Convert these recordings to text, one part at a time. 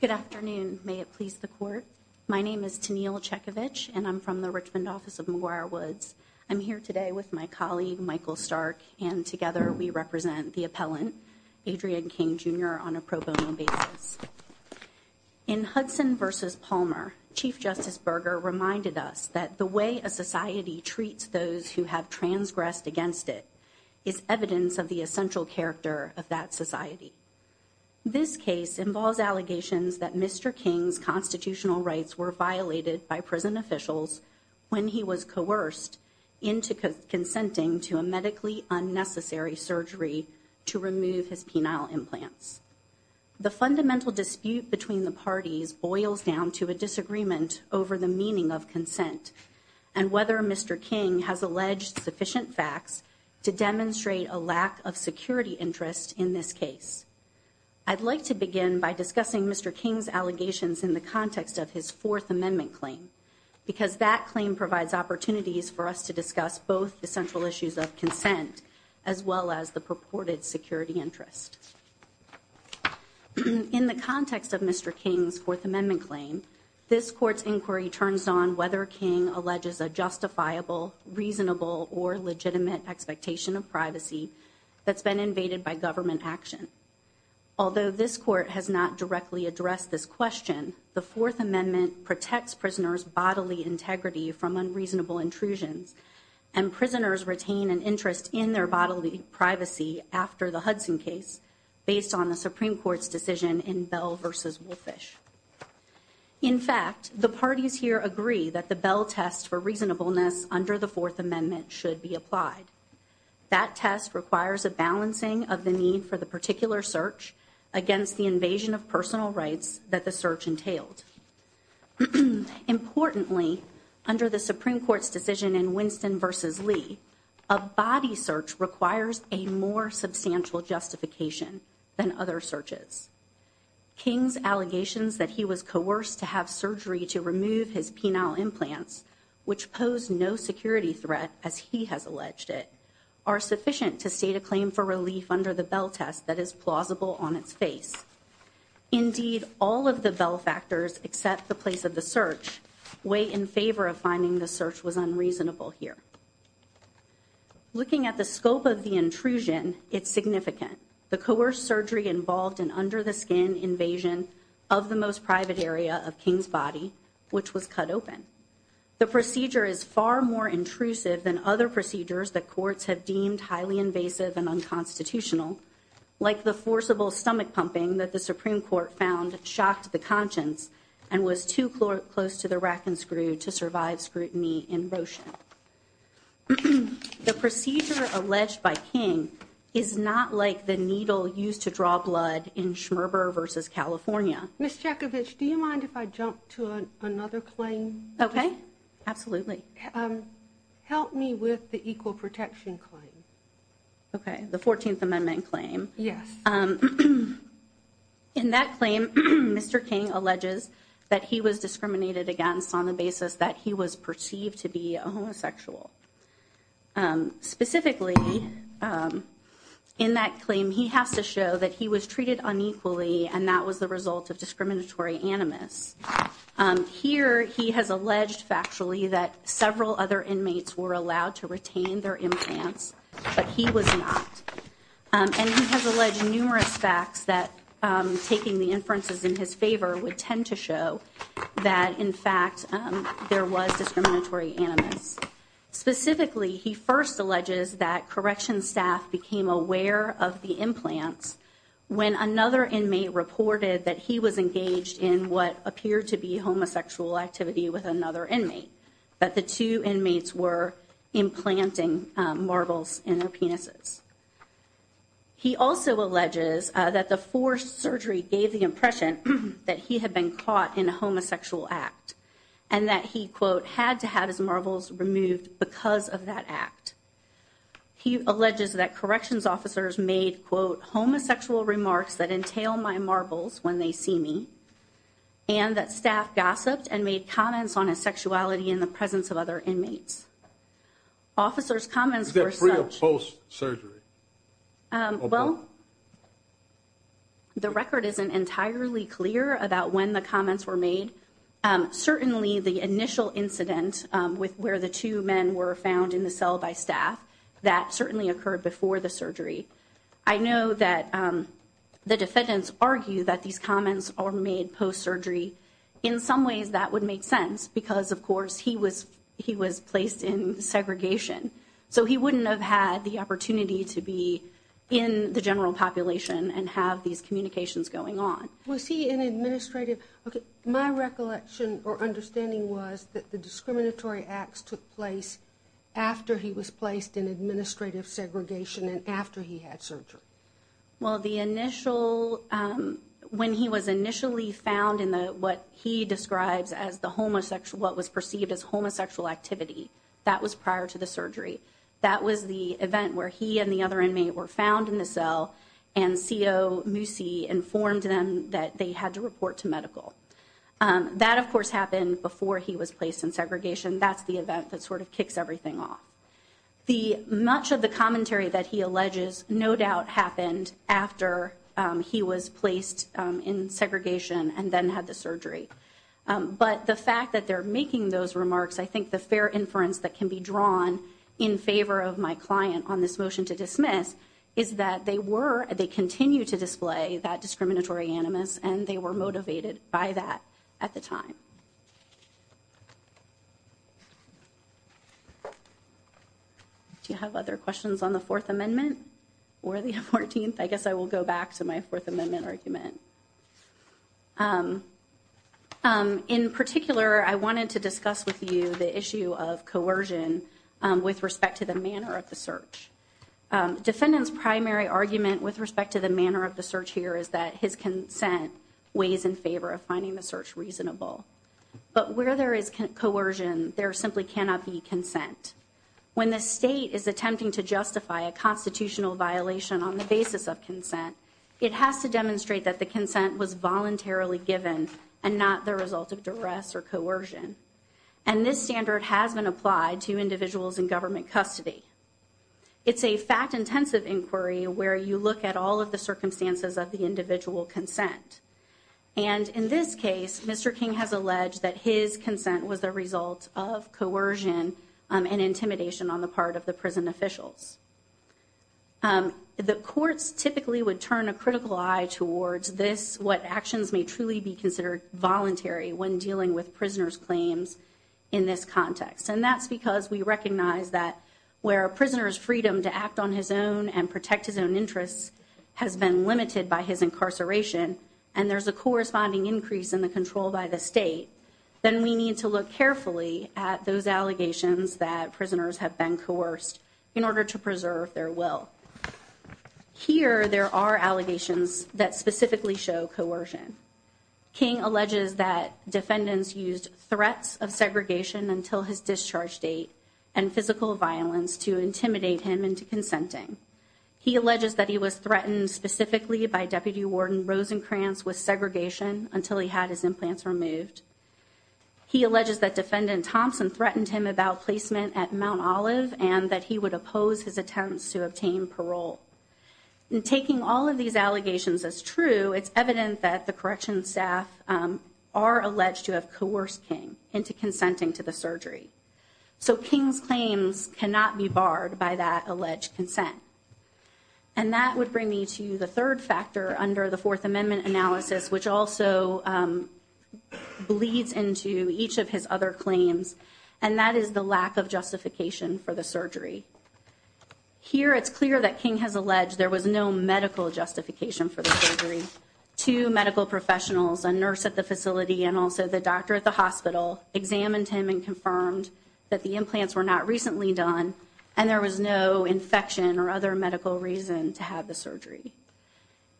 Good afternoon. May it please the court. My name is Tenille Chekovich and I'm from the Richmond office of McGuire Woods. I'm here today with my colleague Michael Stark and together we represent the appellant Adrian King, Jr. on a pro bono basis. In Hudson v. Palmer, Chief Justice Berger reminded us that the way a society treats those who have transgressed against it is evidence of the essential character of that society. This case involves allegations that Mr. King's constitutional rights were violated by prison officials when he was coerced into consenting to a medically unnecessary surgery to remove his penile implants. The fundamental dispute between the parties boils down to a disagreement over the meaning of consent and whether Mr. King has alleged sufficient facts to demonstrate a lack of security interest in this case. I'd like to begin by discussing Mr. King's allegations in the context of his Fourth Amendment claim because that claim provides opportunities for us to discuss both the central issues of consent as well as the purported security interest. In the context of Mr. King's Fourth Amendment claim, this court's inquiry turns on whether Mr. King alleges a justifiable, reasonable, or legitimate expectation of privacy that's been invaded by government action. Although this court has not directly addressed this question, the Fourth Amendment protects prisoners' bodily integrity from unreasonable intrusions and prisoners retain an interest in their bodily privacy after the Hudson case based on the Supreme Court's decision in Bell v. Wolfish. In fact, the parties here agree that the Bell test for reasonableness under the Fourth Amendment should be applied. That test requires a balancing of the need for the particular search against the invasion of personal rights that the search entailed. Importantly, under the Supreme Court's decision in Winston v. Lee, a body search requires a more substantial justification than other searches. King's allegations that he was coerced to have surgery to remove his penile implants, which pose no security threat as he has alleged it, are sufficient to state a claim for relief under the Bell test that is plausible on its face. Indeed, all of the Bell factors except the place of the search weigh in favor of finding the search was unreasonable here. Looking at the scope of the intrusion, it's significant. The coerced surgery involved an under-the-skin invasion of the most private area of King's body, which was cut open. The procedure is far more intrusive than other procedures that courts have deemed highly invasive and unconstitutional, like the forcible stomach pumping that the Supreme Court found shocked the conscience and was too close to the rack and screw to survive scrutiny in Roshan. The procedure alleged by King is not like the needle used to draw blood in Schmerber v. California. Ms. Chekovich, do you mind if I jump to another claim? Okay, absolutely. Help me with the equal protection claim. Okay, the 14th Amendment claim. Yes. In that claim, Mr. King alleges that he was discriminated against on the basis that he was anonymous. Specifically, in that claim, he has to show that he was treated unequally, and that was the result of discriminatory animus. Here, he has alleged factually that several other inmates were allowed to retain their implants, but he was not. And he has alleged numerous facts that, taking the inferences in his favor, would tend to show that, in fact, there was discriminatory animus. Specifically, he first alleges that correction staff became aware of the implants when another inmate reported that he was engaged in what appeared to be homosexual activity with another inmate, that the two inmates were implanting marbles in their penises. He also alleges that the forced surgery gave the impression that he had been caught in a and that he, quote, had to have his marbles removed because of that act. He alleges that corrections officers made, quote, homosexual remarks that entail my marbles when they see me, and that staff gossiped and made comments on his sexuality in the presence of other inmates. Officers' comments were such... Is that pre or post-surgery? Well, the record isn't entirely clear about when the comments were made. Certainly, the initial incident where the two men were found in the cell by staff, that certainly occurred before the surgery. I know that the defendants argue that these comments are made post-surgery. In some ways, that would make sense because, of course, he was placed in segregation. So he wouldn't have had the opportunity to be in the general population and have these comments. My recollection or understanding was that the discriminatory acts took place after he was placed in administrative segregation and after he had surgery. Well, when he was initially found in what he describes as what was perceived as homosexual activity, that was prior to the surgery. That was the event where he and the other inmate were found in the cell and CO Moosey informed them that they had to report to medical. That, of course, happened before he was placed in segregation. That's the event that sort of kicks everything off. Much of the commentary that he alleges no doubt happened after he was placed in segregation and then had the surgery. But the fact that they're making those remarks, I think the fair on this motion to dismiss is that they were they continue to display that discriminatory animus and they were motivated by that at the time. Do you have other questions on the Fourth Amendment or the 14th? I guess I will go back to my Fourth Amendment argument. In particular, I wanted to discuss with you the issue of coercion with respect to the manner of search. Defendants primary argument with respect to the manner of the search here is that his consent weighs in favor of finding the search reasonable. But where there is coercion, there simply cannot be consent. When the state is attempting to justify a constitutional violation on the basis of consent, it has to demonstrate that the consent was voluntarily given and not the result of duress or coercion. And this standard has been applied to individuals in government custody. It's a fact intensive inquiry where you look at all of the circumstances of the individual consent. And in this case, Mr. King has alleged that his consent was the result of coercion and intimidation on the part of the prison officials. The courts typically would turn a critical eye towards this, what actions may truly be considered voluntary when dealing with prisoners claims in this context. And that's because we recognize that where a prisoner's freedom to act on his own and protect his own interests has been limited by his incarceration, and there's a corresponding increase in the control by the state, then we need to look carefully at those allegations that prisoners have been coerced in order to preserve their will. Here, there are allegations that specifically show coercion. King alleges that defendants used threats of segregation until his discharge date and physical violence to intimidate him into consenting. He alleges that he was threatened specifically by Deputy Warden Rosencrantz with segregation until he had his implants removed. He alleges that Defendant Thompson threatened him about placement at Mount Olive and that he would it's evident that the corrections staff are alleged to have coerced King into consenting to the surgery. So King's claims cannot be barred by that alleged consent. And that would bring me to the third factor under the Fourth Amendment analysis, which also bleeds into each of his other claims, and that is the lack of justification for the surgery. Here, it's clear that King has surgery. Two medical professionals, a nurse at the facility and also the doctor at the hospital, examined him and confirmed that the implants were not recently done and there was no infection or other medical reason to have the surgery.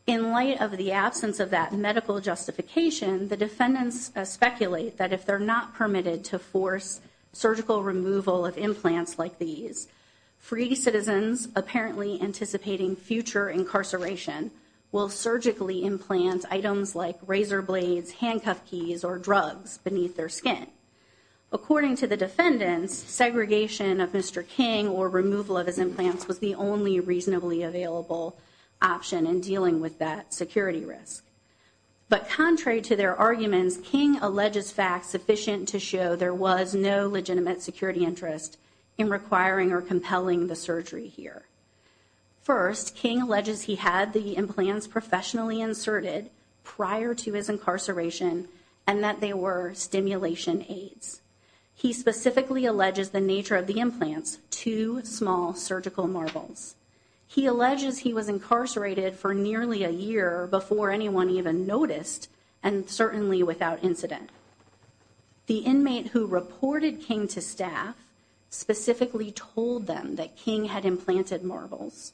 In light of the absence of that medical justification, the defendants speculate that if they're not permitted to force surgical removal of implants like these, free citizens apparently anticipating future incarceration will surgically implant items like razor blades, handcuff keys, or drugs beneath their skin. According to the defendants, segregation of Mr. King or removal of his implants was the only reasonably available option in dealing with that security risk. But contrary to their arguments, King alleges facts sufficient to show there was no legitimate security interest in requiring or compelling the surgery here. First, King alleges he had the implants professionally inserted prior to his incarceration and that they were stimulation aids. He specifically alleges the nature of the implants, two small surgical marbles. He alleges he was incarcerated for nearly a year before anyone even noticed and certainly without incident. The inmate who reported King to staff specifically told them that King had implanted marbles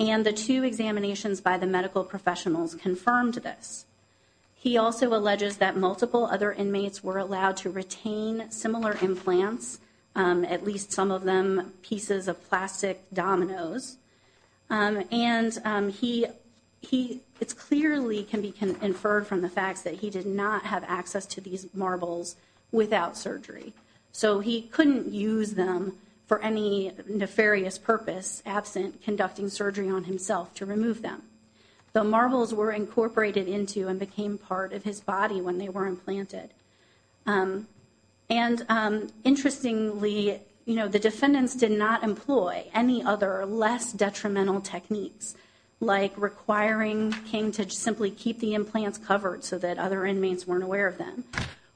and the two examinations by the medical professionals confirmed this. He also alleges that multiple other inmates were allowed to retain can be inferred from the facts that he did not have access to these marbles without surgery. So he couldn't use them for any nefarious purpose absent conducting surgery on himself to remove them. The marbles were incorporated into and became part of his body when they were implanted. And interestingly, you know, the defendants did not employ any other less detrimental techniques like requiring King to simply keep the implants covered so that other inmates weren't aware of them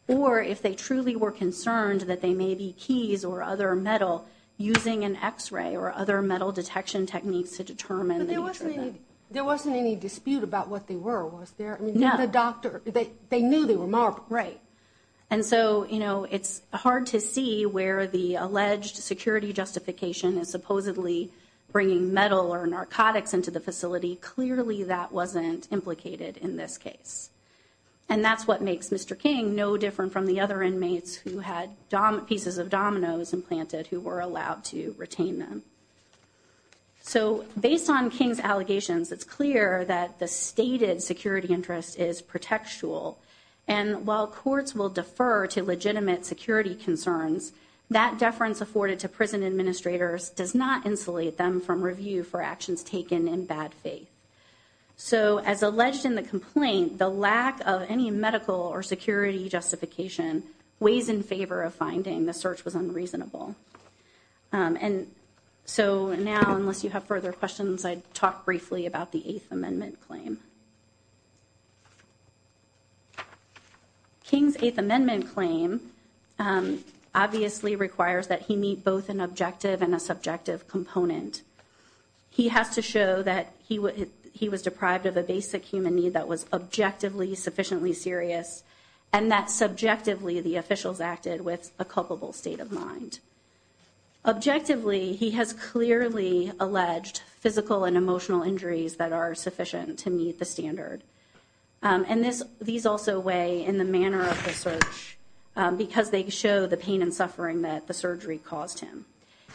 or if they truly were concerned that they may be keys or other metal using an x-ray or other metal detection techniques to determine. There wasn't any dispute about what they were, was there? No. The doctor, they knew they were marble. Right. And so, you know, it's hard to see where the alleged security justification is supposedly bringing metal or narcotics into the facility. Clearly, that wasn't implicated in this case. And that's what makes Mr. King no different from the other inmates who had pieces of dominoes implanted who were allowed to retain them. So based on King's allegations, it's clear that the stated security interest is protectual. And while courts will defer to legitimate security concerns, that deference afforded to prison administrators does not insulate them from review for actions taken in bad faith. So as alleged in the complaint, the lack of any medical or security justification weighs in favor of finding the search was unreasonable. And so now, unless you have further questions, I'd talk briefly about the Eighth Amendment claim. King's Eighth Amendment claim obviously requires that he meet both an objective and a subjective component. He has to show that he was deprived of a basic human need that was objectively sufficiently serious and that subjectively the officials acted with a culpable state of mind. Objectively, he has clearly alleged physical and emotional injuries that are sufficient to meet the standard. And these also weigh in the manner of the search because they show the pain and suffering that the surgery caused him.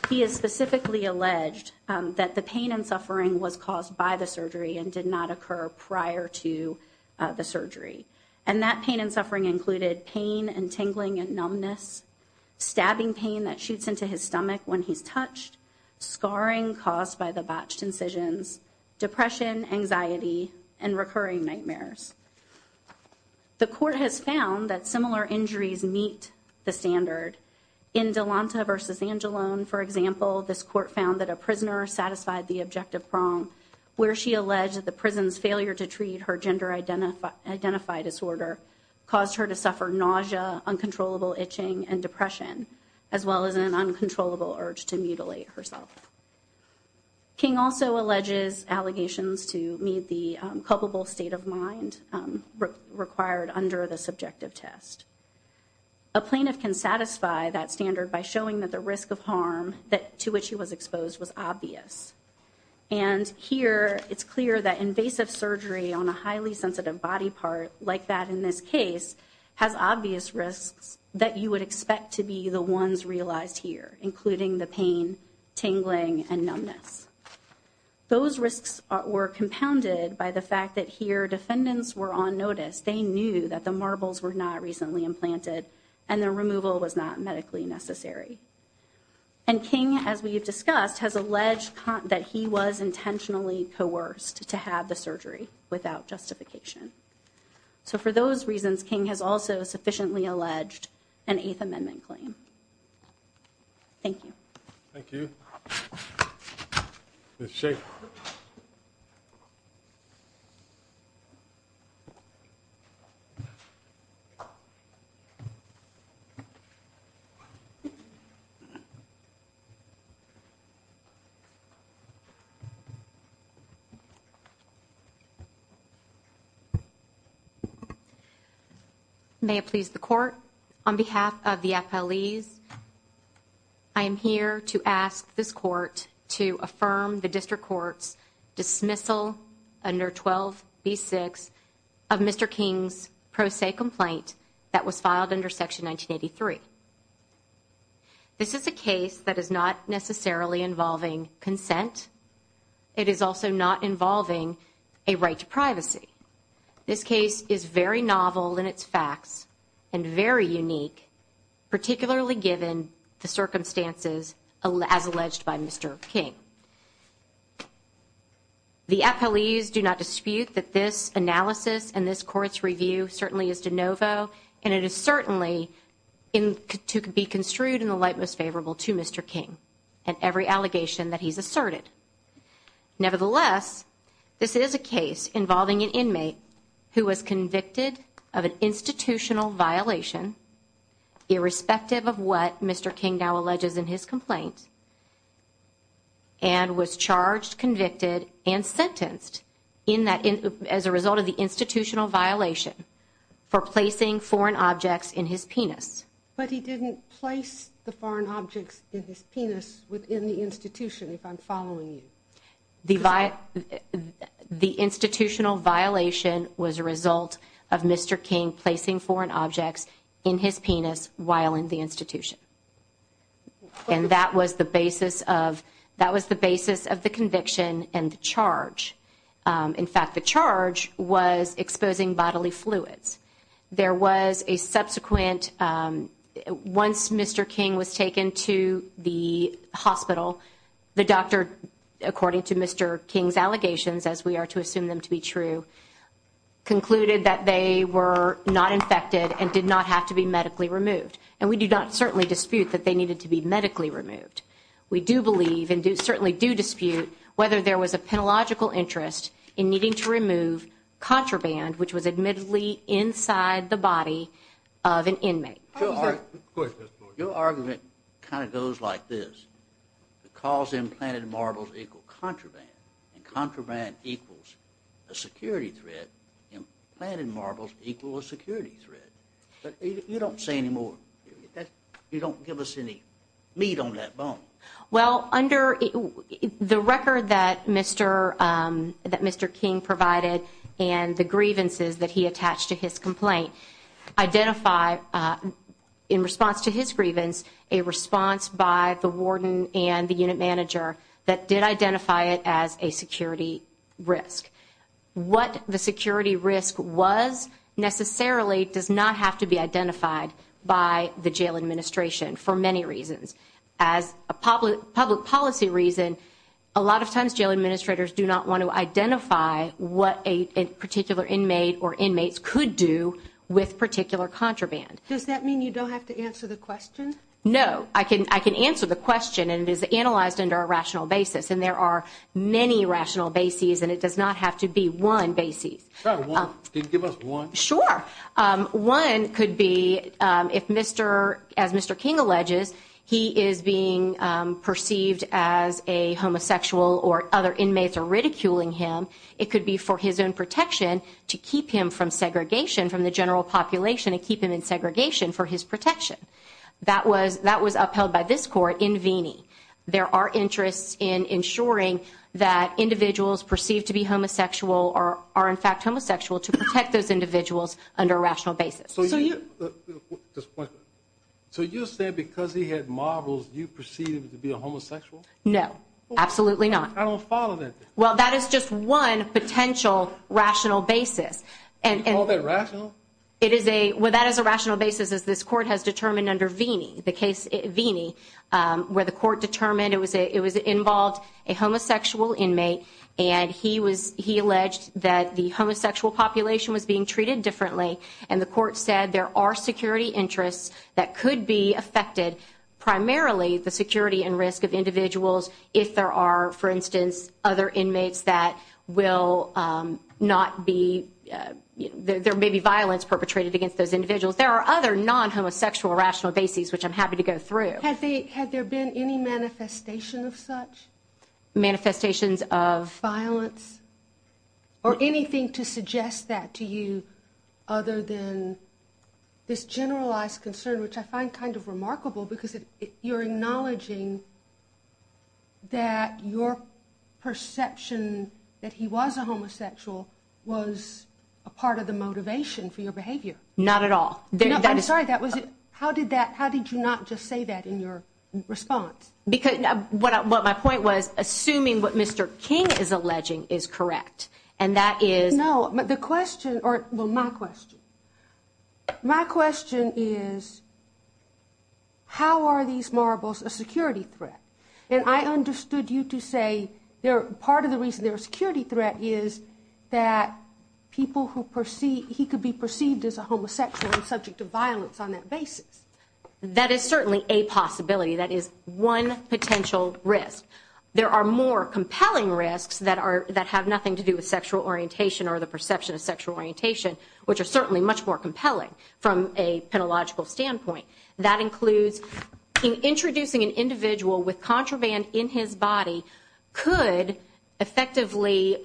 He has specifically alleged that the pain and suffering was caused by the surgery and did not occur prior to the surgery. And that pain and suffering included pain and tingling and numbness, stabbing pain that shoots into his stomach when he's and recurring nightmares. The court has found that similar injuries meet the standard in Delonta versus Angelone. For example, this court found that a prisoner satisfied the objective prong where she alleged that the prison's failure to treat her gender identified disorder caused her to suffer nausea, uncontrollable itching and depression, as well as an uncontrollable urge to mutilate herself. King also alleges allegations to meet the culpable state of mind required under the subjective test. A plaintiff can satisfy that standard by showing that the risk of harm that to which he was exposed was obvious. And here it's clear that invasive surgery on a highly sensitive body part like that in this case has obvious risks that you would expect to be the ones realized here, including the pain, tingling and numbness. Those risks were compounded by the fact that here defendants were on notice. They knew that the marbles were not recently implanted and the removal was not medically necessary. And King, as we have discussed, has alleged that he was intentionally coerced to have the surgery without justification. So for those reasons, King has also sufficiently alleged an Eighth Amendment claim. Thank you. May it please the court. On behalf of the appellees, I am here to ask this court to affirm the district court's dismissal under 12 B6 of Mr. King's pro se complaint that was filed under Section 1983. This is a case that is not necessarily involving consent. It is also not involving a right to this case is very novel in its facts and very unique, particularly given the circumstances as alleged by Mr. King. The appellees do not dispute that this analysis and this court's review certainly is de novo, and it is certainly in to be construed in the light most favorable to Mr. King and every allegation that he's asserted. Nevertheless, this is a case involving an inmate who was convicted of an institutional violation, irrespective of what Mr. King now alleges in his complaint, and was charged, convicted and sentenced as a result of the institutional violation for placing foreign objects in his penis. But he didn't place the foreign objects in his penis within the institution, if I'm following you. The institutional violation was a result of Mr. King placing foreign objects in his penis while in the institution. And that was the basis of the conviction and the charge. In fact, the charge was exposing bodily fluids. There was a subsequent, once Mr. King was taken to the hospital, the doctor, according to Mr. King's allegations, as we are to assume them to be true, concluded that they were not infected and did not have to be medically removed. And we do not certainly dispute that they needed to be medically removed. We do believe and certainly do dispute whether there was a penological interest in needing to remove contraband, which was admittedly inside the body of an inmate. Your argument kind of goes like this. The cause implanted in marbles equals contraband, and contraband equals a security threat, implanted in marbles equals a security threat. But you don't say any more. You don't give us any meat on that bone. Well, under the record that Mr. King provided and the grievances that he attached to his complaint, identify, in response to his grievance, a response by the warden and the unit manager that did identify it as a security risk. What the security risk was necessarily does not have to be identified by the jail administration for many reasons. As a public policy reason, a lot of times jail administrators do not want to identify what a particular inmate or inmates could do with particular contraband. Does that mean you don't have to answer the question? No. I can answer the question, and it is analyzed under a rational basis. And there are many rational bases, and it does not have to be one basis. Can you give us one? Sure. One could be, as Mr. King alleges, he is being perceived as a homosexual or other inmates are ridiculing him. It could be for his own protection to keep him from segregation from the general population and keep him in segregation for his protection. That was upheld by this court in Veeney. There are interests in ensuring that individuals perceived to be homosexual are in fact homosexual to protect those individuals under a rational basis. So you said because he had marbles, you perceived him to be a homosexual? No. Absolutely not. Well, that is just one potential rational basis. You call that rational? That is a rational basis, as this court has determined under Veeney, where the court determined it was involved a homosexual inmate, and he alleged that the homosexual population was being treated differently. And the court said there are security interests that could be affected, primarily the security and risk of individuals if there are, for instance, other inmates that will not be, there may be violence perpetrated against those individuals. There are other non-homosexual rational basis which I'm happy to go through. Had there been any manifestation of such? Manifestations of? Violence? Or anything to suggest that to you other than this generalized concern, which I find kind of remarkable because you're acknowledging that your perception that he was a homosexual was a part of the motivation for your behavior. Not at all. I'm sorry, that was it. How did that, how did you not just say that in your response? Because what my point was, assuming what Mr. King is alleging is correct. And that is. No, but the question, well my question. My question is, how are these marbles a security threat? And I understood you to say part of the reason they're a security threat is that people who perceive, he could be perceived as a homosexual and subject to violence on that basis. That is certainly a possibility. That is one potential risk. There are more compelling sexual orientation or the perception of sexual orientation which are certainly much more compelling from a pedagogical standpoint. That includes introducing an individual with contraband in his body could effectively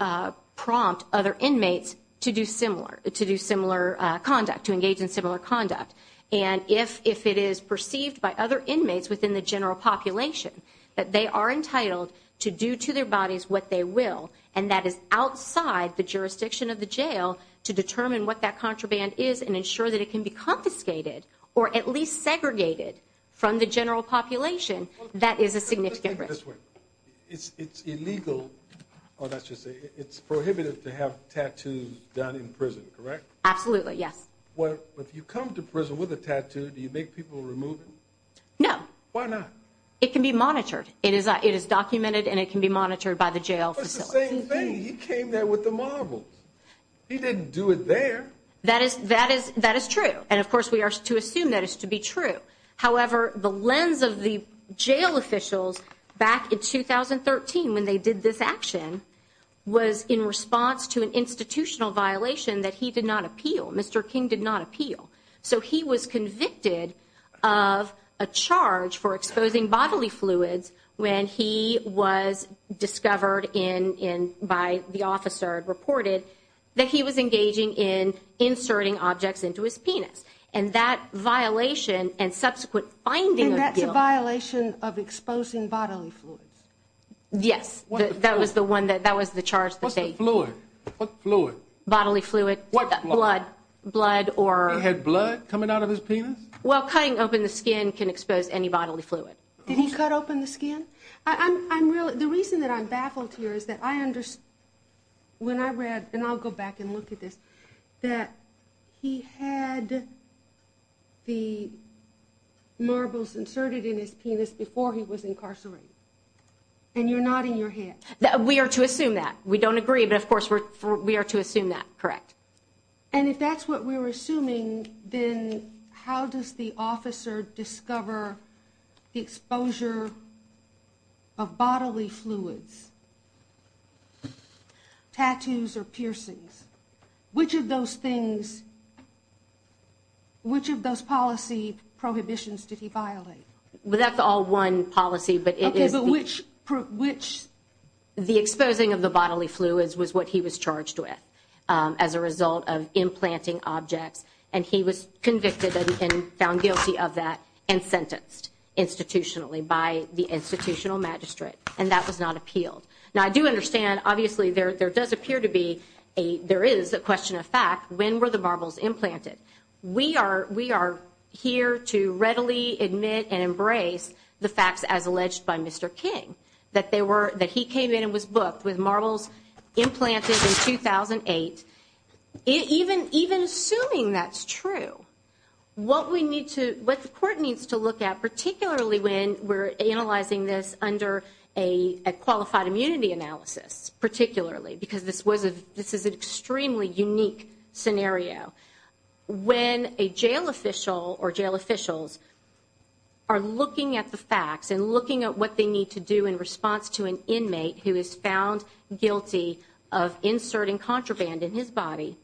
prompt other inmates to do similar, to do similar conduct, to engage in similar conduct. And if it is perceived by other inmates within the general population that they are entitled to do to their bodies what they will and that is outside the jurisdiction of the jail to determine what that contraband is and ensure that it can be confiscated or at least segregated from the general population. That is a significant risk. It's illegal. Oh, that's just it's prohibitive to have tattoos done in prison, correct? Absolutely. Yes. Well, if you come to prison with a tattoo, do you make people remove it? No. Why not? It can be monitored. It is documented and it can be monitored by the jail. He came there with the marbles. He didn't do it there. That is that is that is true. And of course, we are to assume that is to be true. However, the lens of the jail officials back in 2013 when they did this action was in response to an institutional violation that he did not appeal. Mr. King did not appeal. So he was convicted of a charge for exposing bodily fluids when he was discovered in in by the officer reported that he was engaging in inserting objects into his penis. And that violation and subsequent finding that's a violation of exposing bodily fluids. Yes, that was the one that that was the charge that they blew it, bodily fluid, blood, blood or had blood coming out of his penis. Well, cutting open the skin can expose any bodily fluid. Did he cut open the skin? I'm really the reason that I'm baffled here is that I understand when I read and I'll go back and look at this, that he had the marbles inserted in his penis before he was incarcerated. And you're not in your head that we are to assume that we don't agree. But of course, we are to assume that correct. And if that's what we're assuming, then how does the officer discover the exposure of bodily fluids, tattoos or piercings? Which of those things, which of those policy prohibitions did he violate? That's all one policy, but it is which which the exposing of the bodily fluids was what he was charged with as a result of implanting objects. And he was convicted and found guilty of that and sentenced institutionally by the institutional magistrate. And that was not appealed. Now, I do understand, obviously, there does appear to be a there is a question of fact, when were the marbles implanted? We are we are here to readily admit and embrace the facts as alleged by Mr. King, that they were that he came in and was booked with marbles implanted in 2008. Even even assuming that's true, what we need to what the court needs to look at, particularly when we're analyzing this under a qualified immunity analysis, particularly because this was a this is an extremely unique scenario when a jail official or jail officials are looking at the facts and looking at what they need to do in response to an inmate who is found guilty of inserting contraband in his body.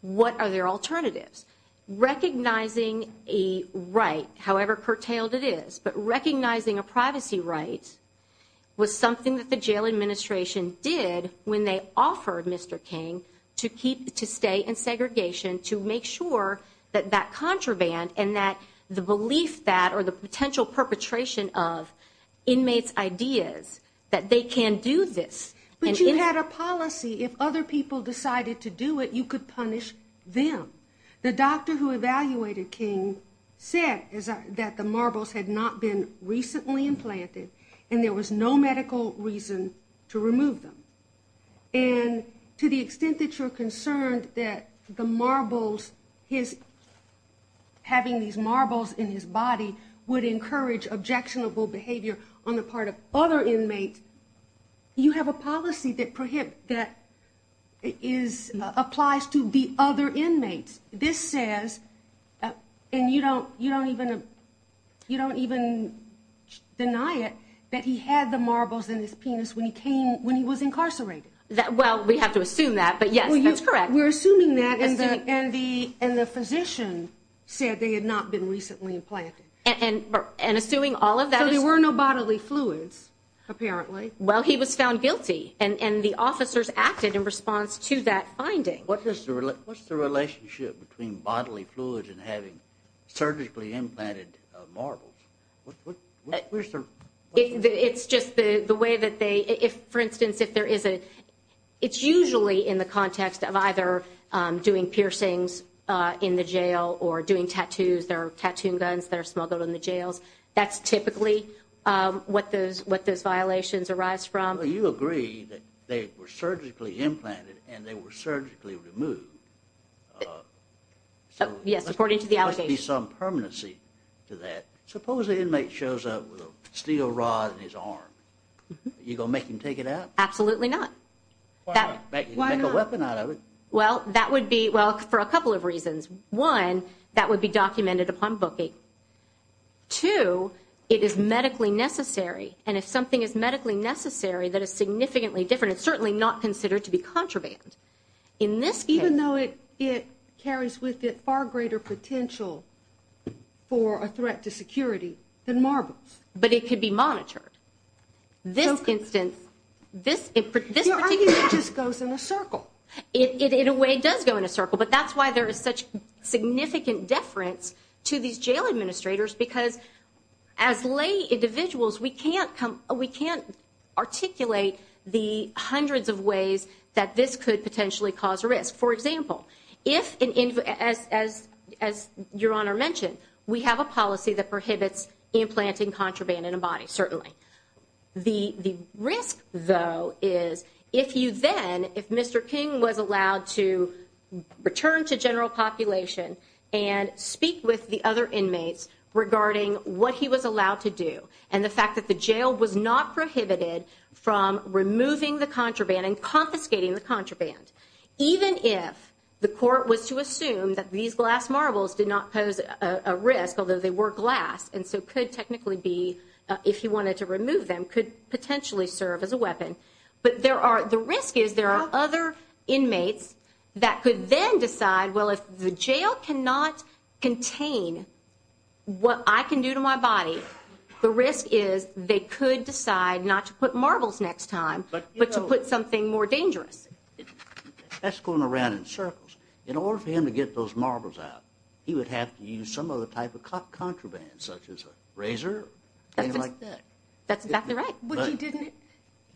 What are their alternatives? Recognizing a right, however curtailed it is, but recognizing a privacy right was something that the jail administration did when they offered Mr. King to keep to stay in segregation to make sure that that contraband and that the belief that or the potential perpetration of inmates ideas that they can do this. But you had a policy if other people decided to do it, you could punish them. The doctor who evaluated King said that the marbles had not been recently implanted and there was no medical reason to remove them. And to the extent that you're concerned that the marbles his having these marbles in his body would encourage objectionable behavior on the part of other inmates, you have a policy that prohibit that is applies to the other inmates. This says and you don't you don't even you don't even deny it that he had the marbles in his penis when he came when he was incarcerated. Well we have to assume that but yes that's correct. We're assuming that and the physician said they had not been recently implanted. And assuming all of that. So there were no bodily fluids apparently. Well he was found guilty and the officers acted in response to that finding. What's the relationship between bodily fluids and having surgically implanted marbles? It's just the way that they if for instance if there is a it's usually in the context of either doing piercings in the jail or doing tattoos there are tattoo guns that are smuggled in the jails. That's typically what those what those violations arise from. You agree that they were surgically implanted and they were surgically removed. So yes according to the allegations. There must be some permanency to that. Suppose the inmate shows up with a steel rod in his arm. You gonna make him take it out? Absolutely not. Why not? Make a weapon out of it. Well that would be well for a couple of reasons. One that would be documented upon booking. Two it is medically necessary and if something is medically necessary that is significantly different it's certainly not considered to be contraband. In this case. Even though it it carries with it far greater potential for a threat to security than marbles. But it could be monitored. This instance this goes in a circle. It in a way does go in a circle but that's why there is such significant deference to these jail administrators because as lay individuals we can't come we can't articulate the hundreds of ways that this could potentially cause a risk. For example if as your honor mentioned we have a policy that prohibits implanting contraband in a body certainly. The risk though is if you then if Mr. King was allowed to return to general population and speak with the other inmates regarding what he was allowed to do and the fact that the jail was not prohibited from removing the contraband and confiscating the contraband. Even if the court was to assume that these glass marbles did not pose a risk although they were glass and so could technically be if he wanted to remove them could potentially serve as a weapon. But there are the risk is there are other inmates that could then decide well if the jail cannot contain what I can do to my body the risk is they could decide not to put marbles next time but to put something more dangerous. That's going around in circles. In order for him to get those marbles out he would have to use some other type of contraband such as a razor. That's exactly right. But he didn't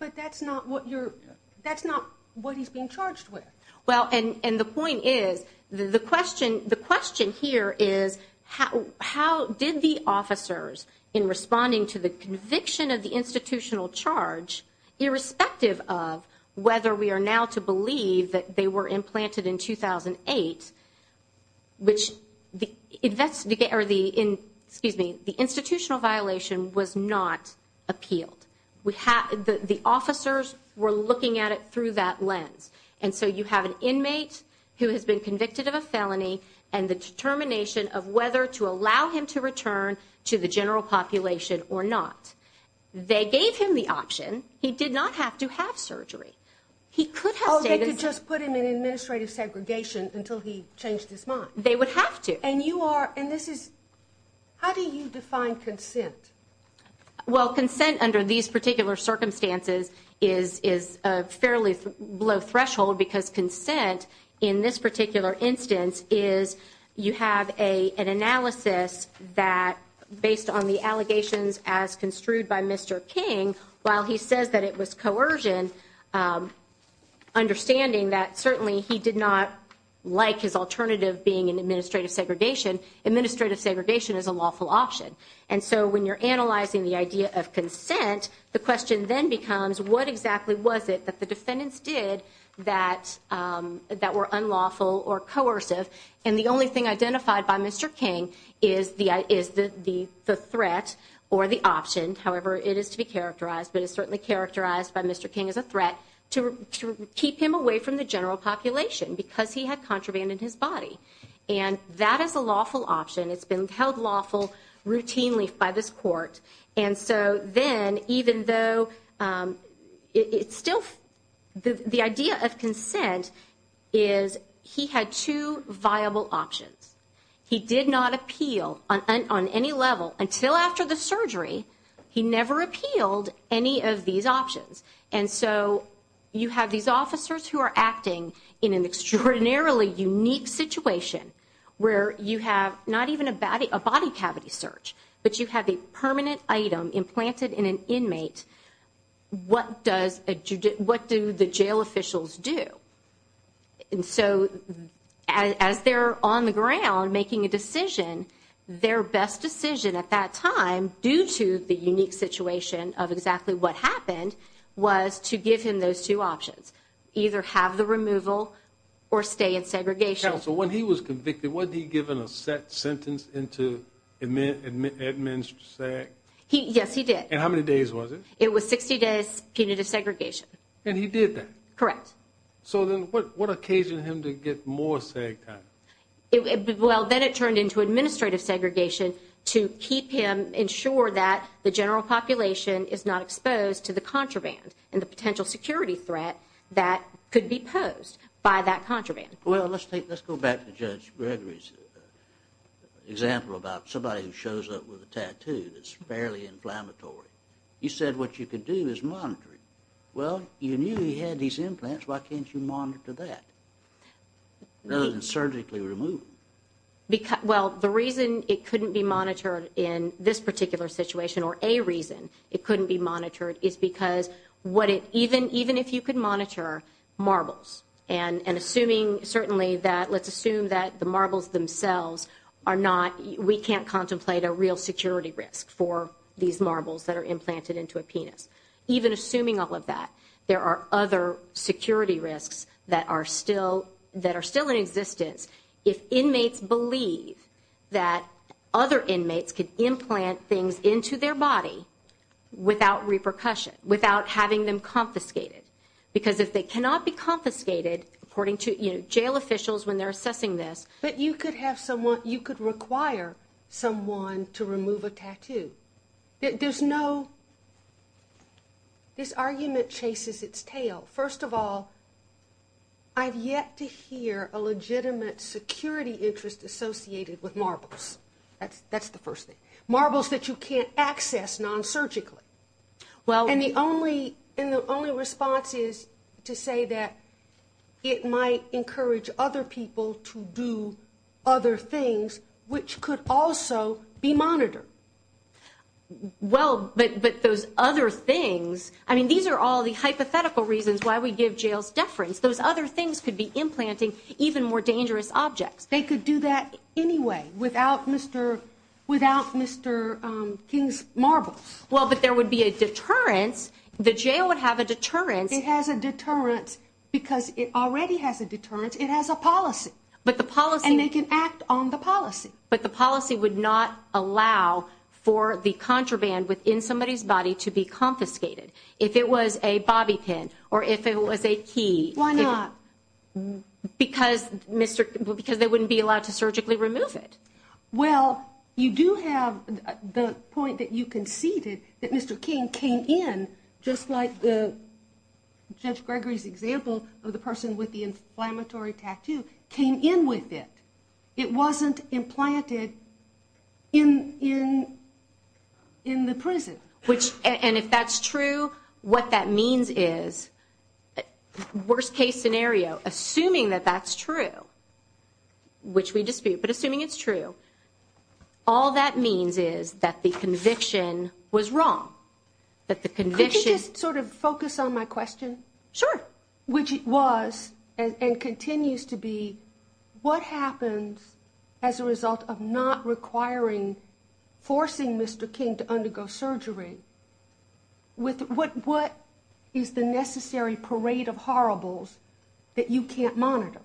but that's not what you're that's not what he's being charged with. Well and and the point is the question the question here is how how did the officers in responding to the conviction of the institutional charge irrespective of whether we are now to 2008 which the investigator the in excuse me the institutional violation was not appealed. We have the the officers were looking at it through that lens and so you have an inmate who has been convicted of a felony and the determination of whether to allow him to return to the general population or not. They gave him the option he did not have to have surgery. He could have just put him in administrative segregation until he changed his mind. They would have to and you are and this is how do you define consent? Well consent under these particular circumstances is is a fairly low threshold because consent in this particular instance is you have a an analysis that based on the allegations as construed by Mr. King while he says that it was coercion understanding that certainly he did not like his alternative being in administrative segregation. Administrative segregation is a lawful option and so when you're analyzing the idea of consent the question then becomes what exactly was it that the defendants did that that were unlawful or coercive and the only thing identified by Mr. King is the is the the threat or the option however it is to be characterized but it's certainly characterized by Mr. King as a threat to keep him away from the general population because he had contraband in his body and that is a lawful option. It's been held lawful routinely by this court and so then even though it's still the the idea of consent is he had two viable options. He did not appeal on any level until after the surgery. He never appealed any of these options and so you have these officers who are acting in an extraordinarily unique situation where you have not even a body a body cavity search but you have a permanent item implanted in an inmate. What does a what do the jail officials do? And so as they're on the ground making a decision their best decision at that time due to the unique situation of exactly what happened was to give him those two options either have the removal or stay in segregation. Counsel when he was convicted what did he give in a set sentence into admin admin sec? He yes he did. And how many days was it? It was 60 days punitive segregation. And he did that? Correct. So then what what occasioned him to get more seg time? Well then it turned into administrative segregation to keep him ensure that the general population is not exposed to the contraband and the potential security threat that could be posed by that contraband. Well let's take let's go back to Judge Gregory's example about somebody who shows up with a tattoo that's fairly inflammatory. You said what you could do is monitor it. Well you knew he had these implants why can't you monitor that? Rather than surgically remove. Because well the reason it couldn't be monitored in this particular situation or a reason it couldn't be monitored is because what it even even if you could monitor marbles and and assuming certainly that let's contemplate a real security risk for these marbles that are implanted into a penis even assuming all of that there are other security risks that are still that are still in existence if inmates believe that other inmates could implant things into their body without repercussion without having them confiscated because if they cannot be confiscated according to you know jail officials when they're assessing this. But you could have someone you could require someone to remove a tattoo. There's no this argument chases its tail. First of all I've yet to hear a legitimate security interest associated with marbles. That's that's the first thing. Marbles that you can't access non-surgically. Well and the only and the only response is to say that it might encourage other people to do other things which could also be monitored. Well but but those other things I mean these are all the hypothetical reasons why we give jails deference those other things could be implanting even more dangerous objects. They could do that anyway without Mr. without Mr. King's marbles. Well but there would be a deterrence the jail would have a deterrence. It has a policy but the policy and they can act on the policy but the policy would not allow for the contraband within somebody's body to be confiscated. If it was a bobby pin or if it was a key why not because Mr. because they wouldn't be allowed to surgically remove it. Well you do have the point that you conceded that Mr. King came in just like the Judge Gregory's example of the person with the inflammatory tattoo came in with it. It wasn't implanted in in in the prison. Which and if that's true what that means is worst case scenario assuming that that's true which we dispute but assuming it's true all that means is that the conviction was wrong that the conviction sort of focus on my question sure which it was and continues to be what happens as a result of not requiring forcing Mr. King to undergo surgery with what what is the necessary parade of horribles that you can't monitor.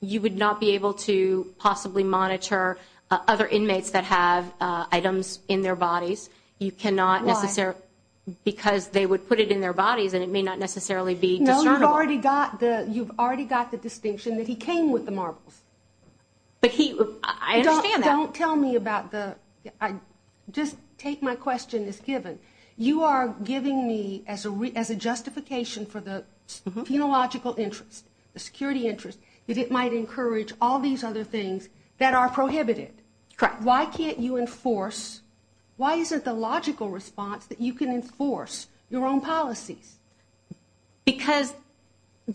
You would not be able to possibly monitor other inmates that have items in their bodies. You cannot necessarily because they would put it in their bodies and it may not necessarily be no you've already got the you've already got the distinction that he came with the marbles but he I don't tell me about the I just take my question is given you are giving me as a as a justification for the phenological interest the security interest that it might encourage all these other things that are prohibited. Correct. Why can't you enforce why isn't the logical response that you can enforce your own policies? Because.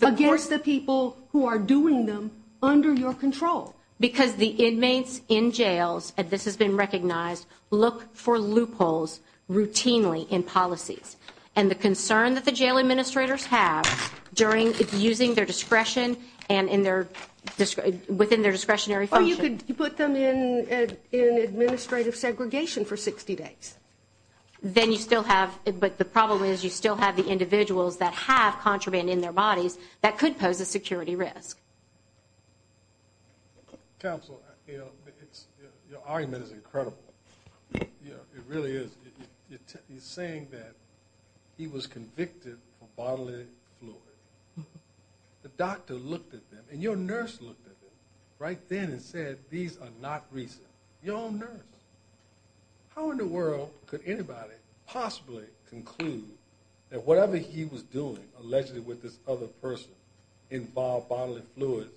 Against the people who are doing them under your control. Because the inmates in jails and this has been recognized look for loopholes routinely in policies and the concern that the jail administrators have during using their discretion and in their within their discretionary. Or you could put them in in administrative segregation for 60 days. Then you still have but the problem is you still have the individuals that have contraband in their bodies that could pose a security risk. Counsel, you know, it's your argument is incredible. Yeah, it really is. He's saying that he was convicted for bodily fluid. The doctor looked at them and your nurse looked at them right then and said these are not recent. Your own nurse. How in the world could anybody possibly conclude that whatever he was doing allegedly with this other person involved bodily fluids?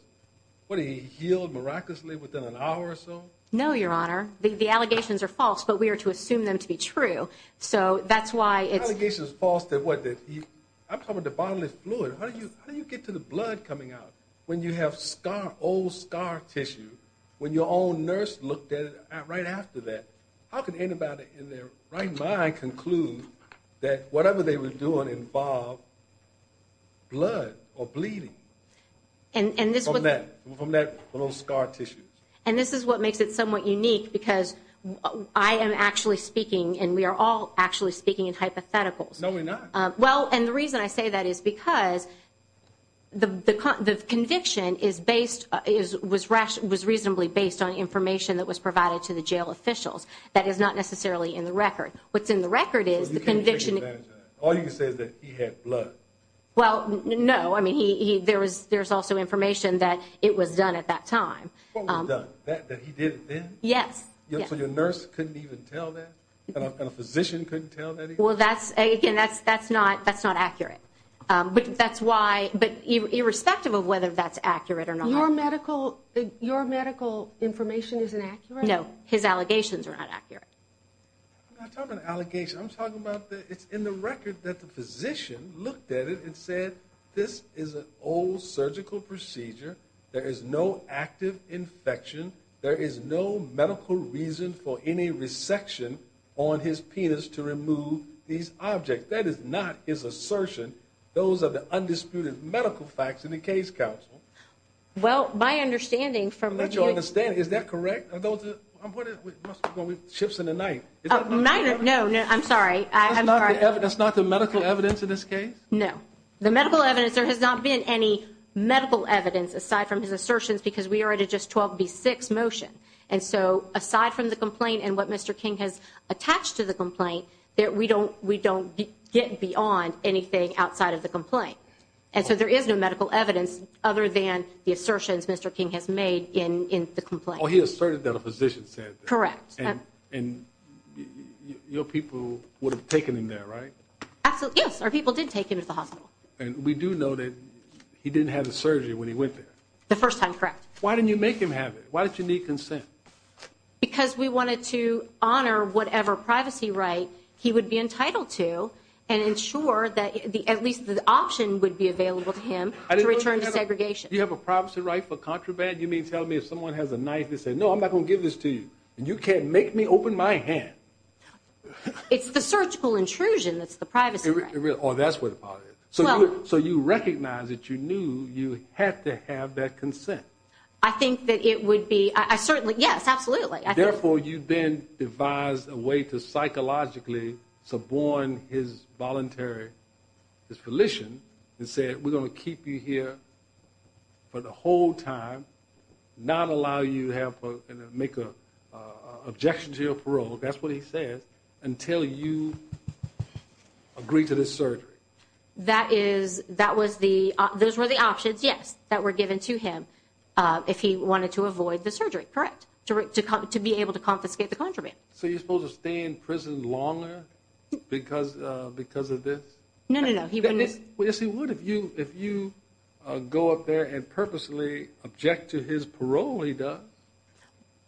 What he healed miraculously within an hour or so? No, your honor. The allegations are false, but we are to assume them to be true. So that's why it's. Allegations false that what did he I'm talking to bodily fluid. How do you how do you get to the blood coming out when you have scar old scar tissue when your own nurse looked at it right after that? How can anybody in their right mind conclude that whatever they were doing involved blood or bleeding? And this is what makes it somewhat unique because I am actually speaking and we are all actually speaking in hypotheticals. No, we're not. Well, and the reason I say that is because the conviction is based is was ration was reasonably based on information that was provided to the jail officials. That is not necessarily in the record. What's in the record is the conviction. All you can say is that he had blood. Well, no, I mean, he there was there's also information that it was done at that time that he did. Yes. So your nurse couldn't even tell that a physician couldn't tell that. Well, that's again, that's that's not that's not accurate. But that's why. But irrespective of whether that's accurate or not, your medical your medical information is inaccurate. No, his allegations are not accurate. I'm not talking about allegations. I'm talking about that. It's in the record that the physician looked at it and said, this is an old surgical procedure. There is no active infection. There is no medical reason for any resection on his penis to remove these objects. That is not his assertion. Those are the undisputed medical facts in the case. Well, my understanding from what you understand, is that correct? Ships in the night. No, no, I'm sorry. I'm sorry. That's not the medical evidence in this case. No, the medical evidence. There has not been any medical evidence aside from his assertions because we are at a just twelve B six motion. And so aside from the complaint and what Mr. King has attached to the complaint that we don't we don't get beyond anything outside of the complaint. And so there is no medical evidence other than the assertions Mr. King has made in the complaint. He asserted that a physician said correct. And your people would have taken him there, right? Absolutely. Yes. Our people did take him to the hospital. And we do know that he didn't have a surgery when he went there the first time. Correct. Why didn't you make him have it? Why did you need consent? Because we wanted to honor whatever privacy right he would be entitled to and ensure that at least the option would be available to him to return to segregation. You have a privacy right for contraband. You mean tell me if someone has a knife and say, no, I'm not going to give this to you and you can't make me open my hand. It's the surgical intrusion. That's the privacy. Oh, that's what it is. So. So you recognize that you knew you had to have that consent. I think that it would be. I certainly. Yes, absolutely. Therefore, you've been devised a way to psychologically suborn his voluntary his volition and said, we're going to keep you here for the whole time, not allow you to have to make a objection to your parole. That's what he says until you agree to this surgery. That is that was the those were the options. Yes, that were given to him if he wanted to avoid the surgery. Correct. To be able to confiscate the contraband. So you're supposed to stay in prison longer because because of this. No, no, no. He wouldn't. Yes, he would. If you if you go up there and purposely object to his parole, he does.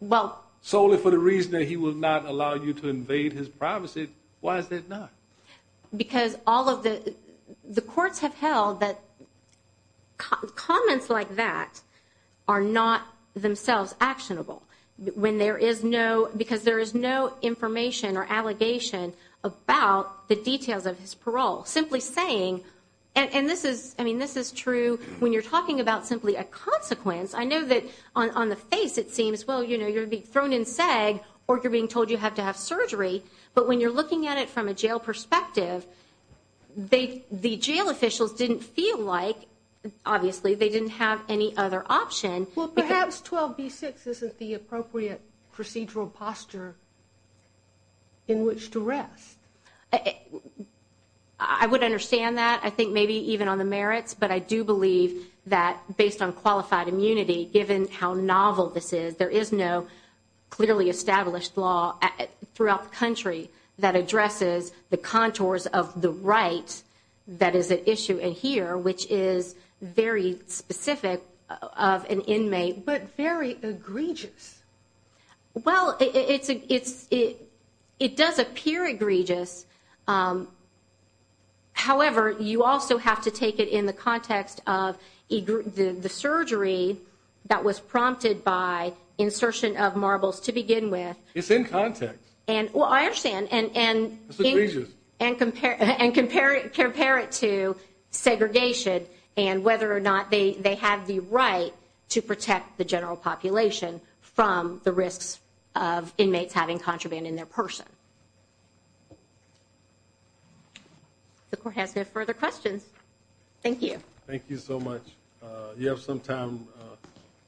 Well, solely for the reason that he will not allow you to invade his privacy. Why is that not? Because all of the courts have held that comments like that are not themselves actionable when there is no because there is no because of his parole, simply saying. And this is I mean, this is true when you're talking about simply a consequence. I know that on the face, it seems, well, you know, you're being thrown in SAG or you're being told you have to have surgery. But when you're looking at it from a jail perspective, they the jail perspective, I would understand that. I think maybe even on the merits. But I do believe that based on qualified immunity, given how novel this is, there is no clearly established law throughout the country that addresses the contours of the right. That is an issue. And here, which is very specific of an inmate, but very egregious. Well, it's it's it it does appear egregious. However, you also have to take it in the context of the surgery that was prompted by insertion of the right to protect the general population from the risks of inmates having contraband in their person. The court has no further questions. Thank you. Thank you so much. You have some time.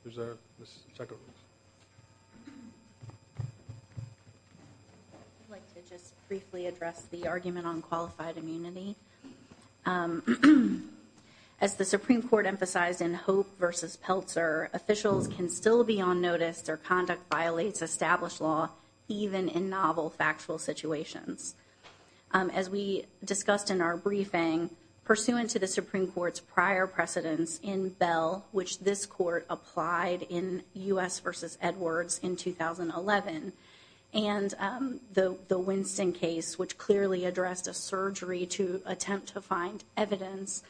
I'd like to just briefly address the argument on qualified immunity. As the Supreme Court emphasized in Hope versus Peltzer, officials can still be on notice or conduct violates established law, even in novel factual situations. As we discussed in our briefing, pursuant to the Supreme Court's prior precedence in Bell, which this court applied in U.S. versus Edwards in 2011 and the Winston case, which clearly addressed a surgery to attempt to find evidence,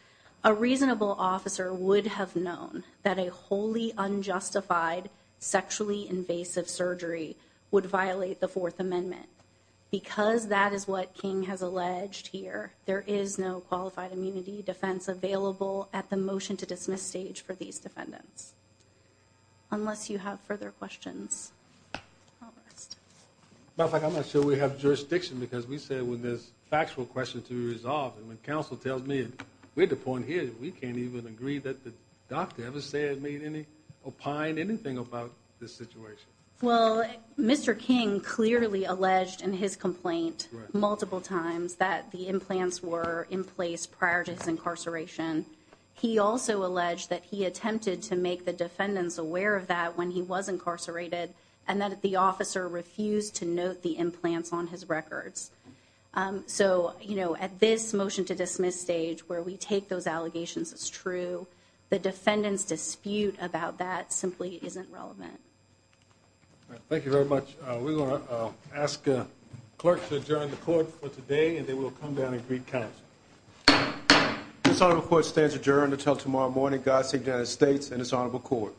a reasonable officer would have known that a wholly unjustified, sexually invasive surgery would violate the Fourth Amendment. Because that is what King has alleged here, there is no qualified immunity defense available at the motion to dismiss stage for these defendants. Unless you have further questions. But I'm not sure we have jurisdiction because we said when this factual question to resolve and when counsel tells me we had to point here, we can't even agree that the doctor ever said made any opine anything about this situation. Well, Mr. King clearly alleged in his complaint multiple times that the implants were in place prior to his incarceration. He also alleged that he attempted to make the defendants aware of that when he was incarcerated and that the officer refused to note the implants on his records. So, you know, at this motion to dismiss stage, where we take those allegations as true, the defendants dispute about that simply isn't relevant. Thank you very much. We're going to ask a clerk to adjourn the court for today and they will come down and greet. This court stands adjourned until tomorrow morning. God save the United States and it's honorable court.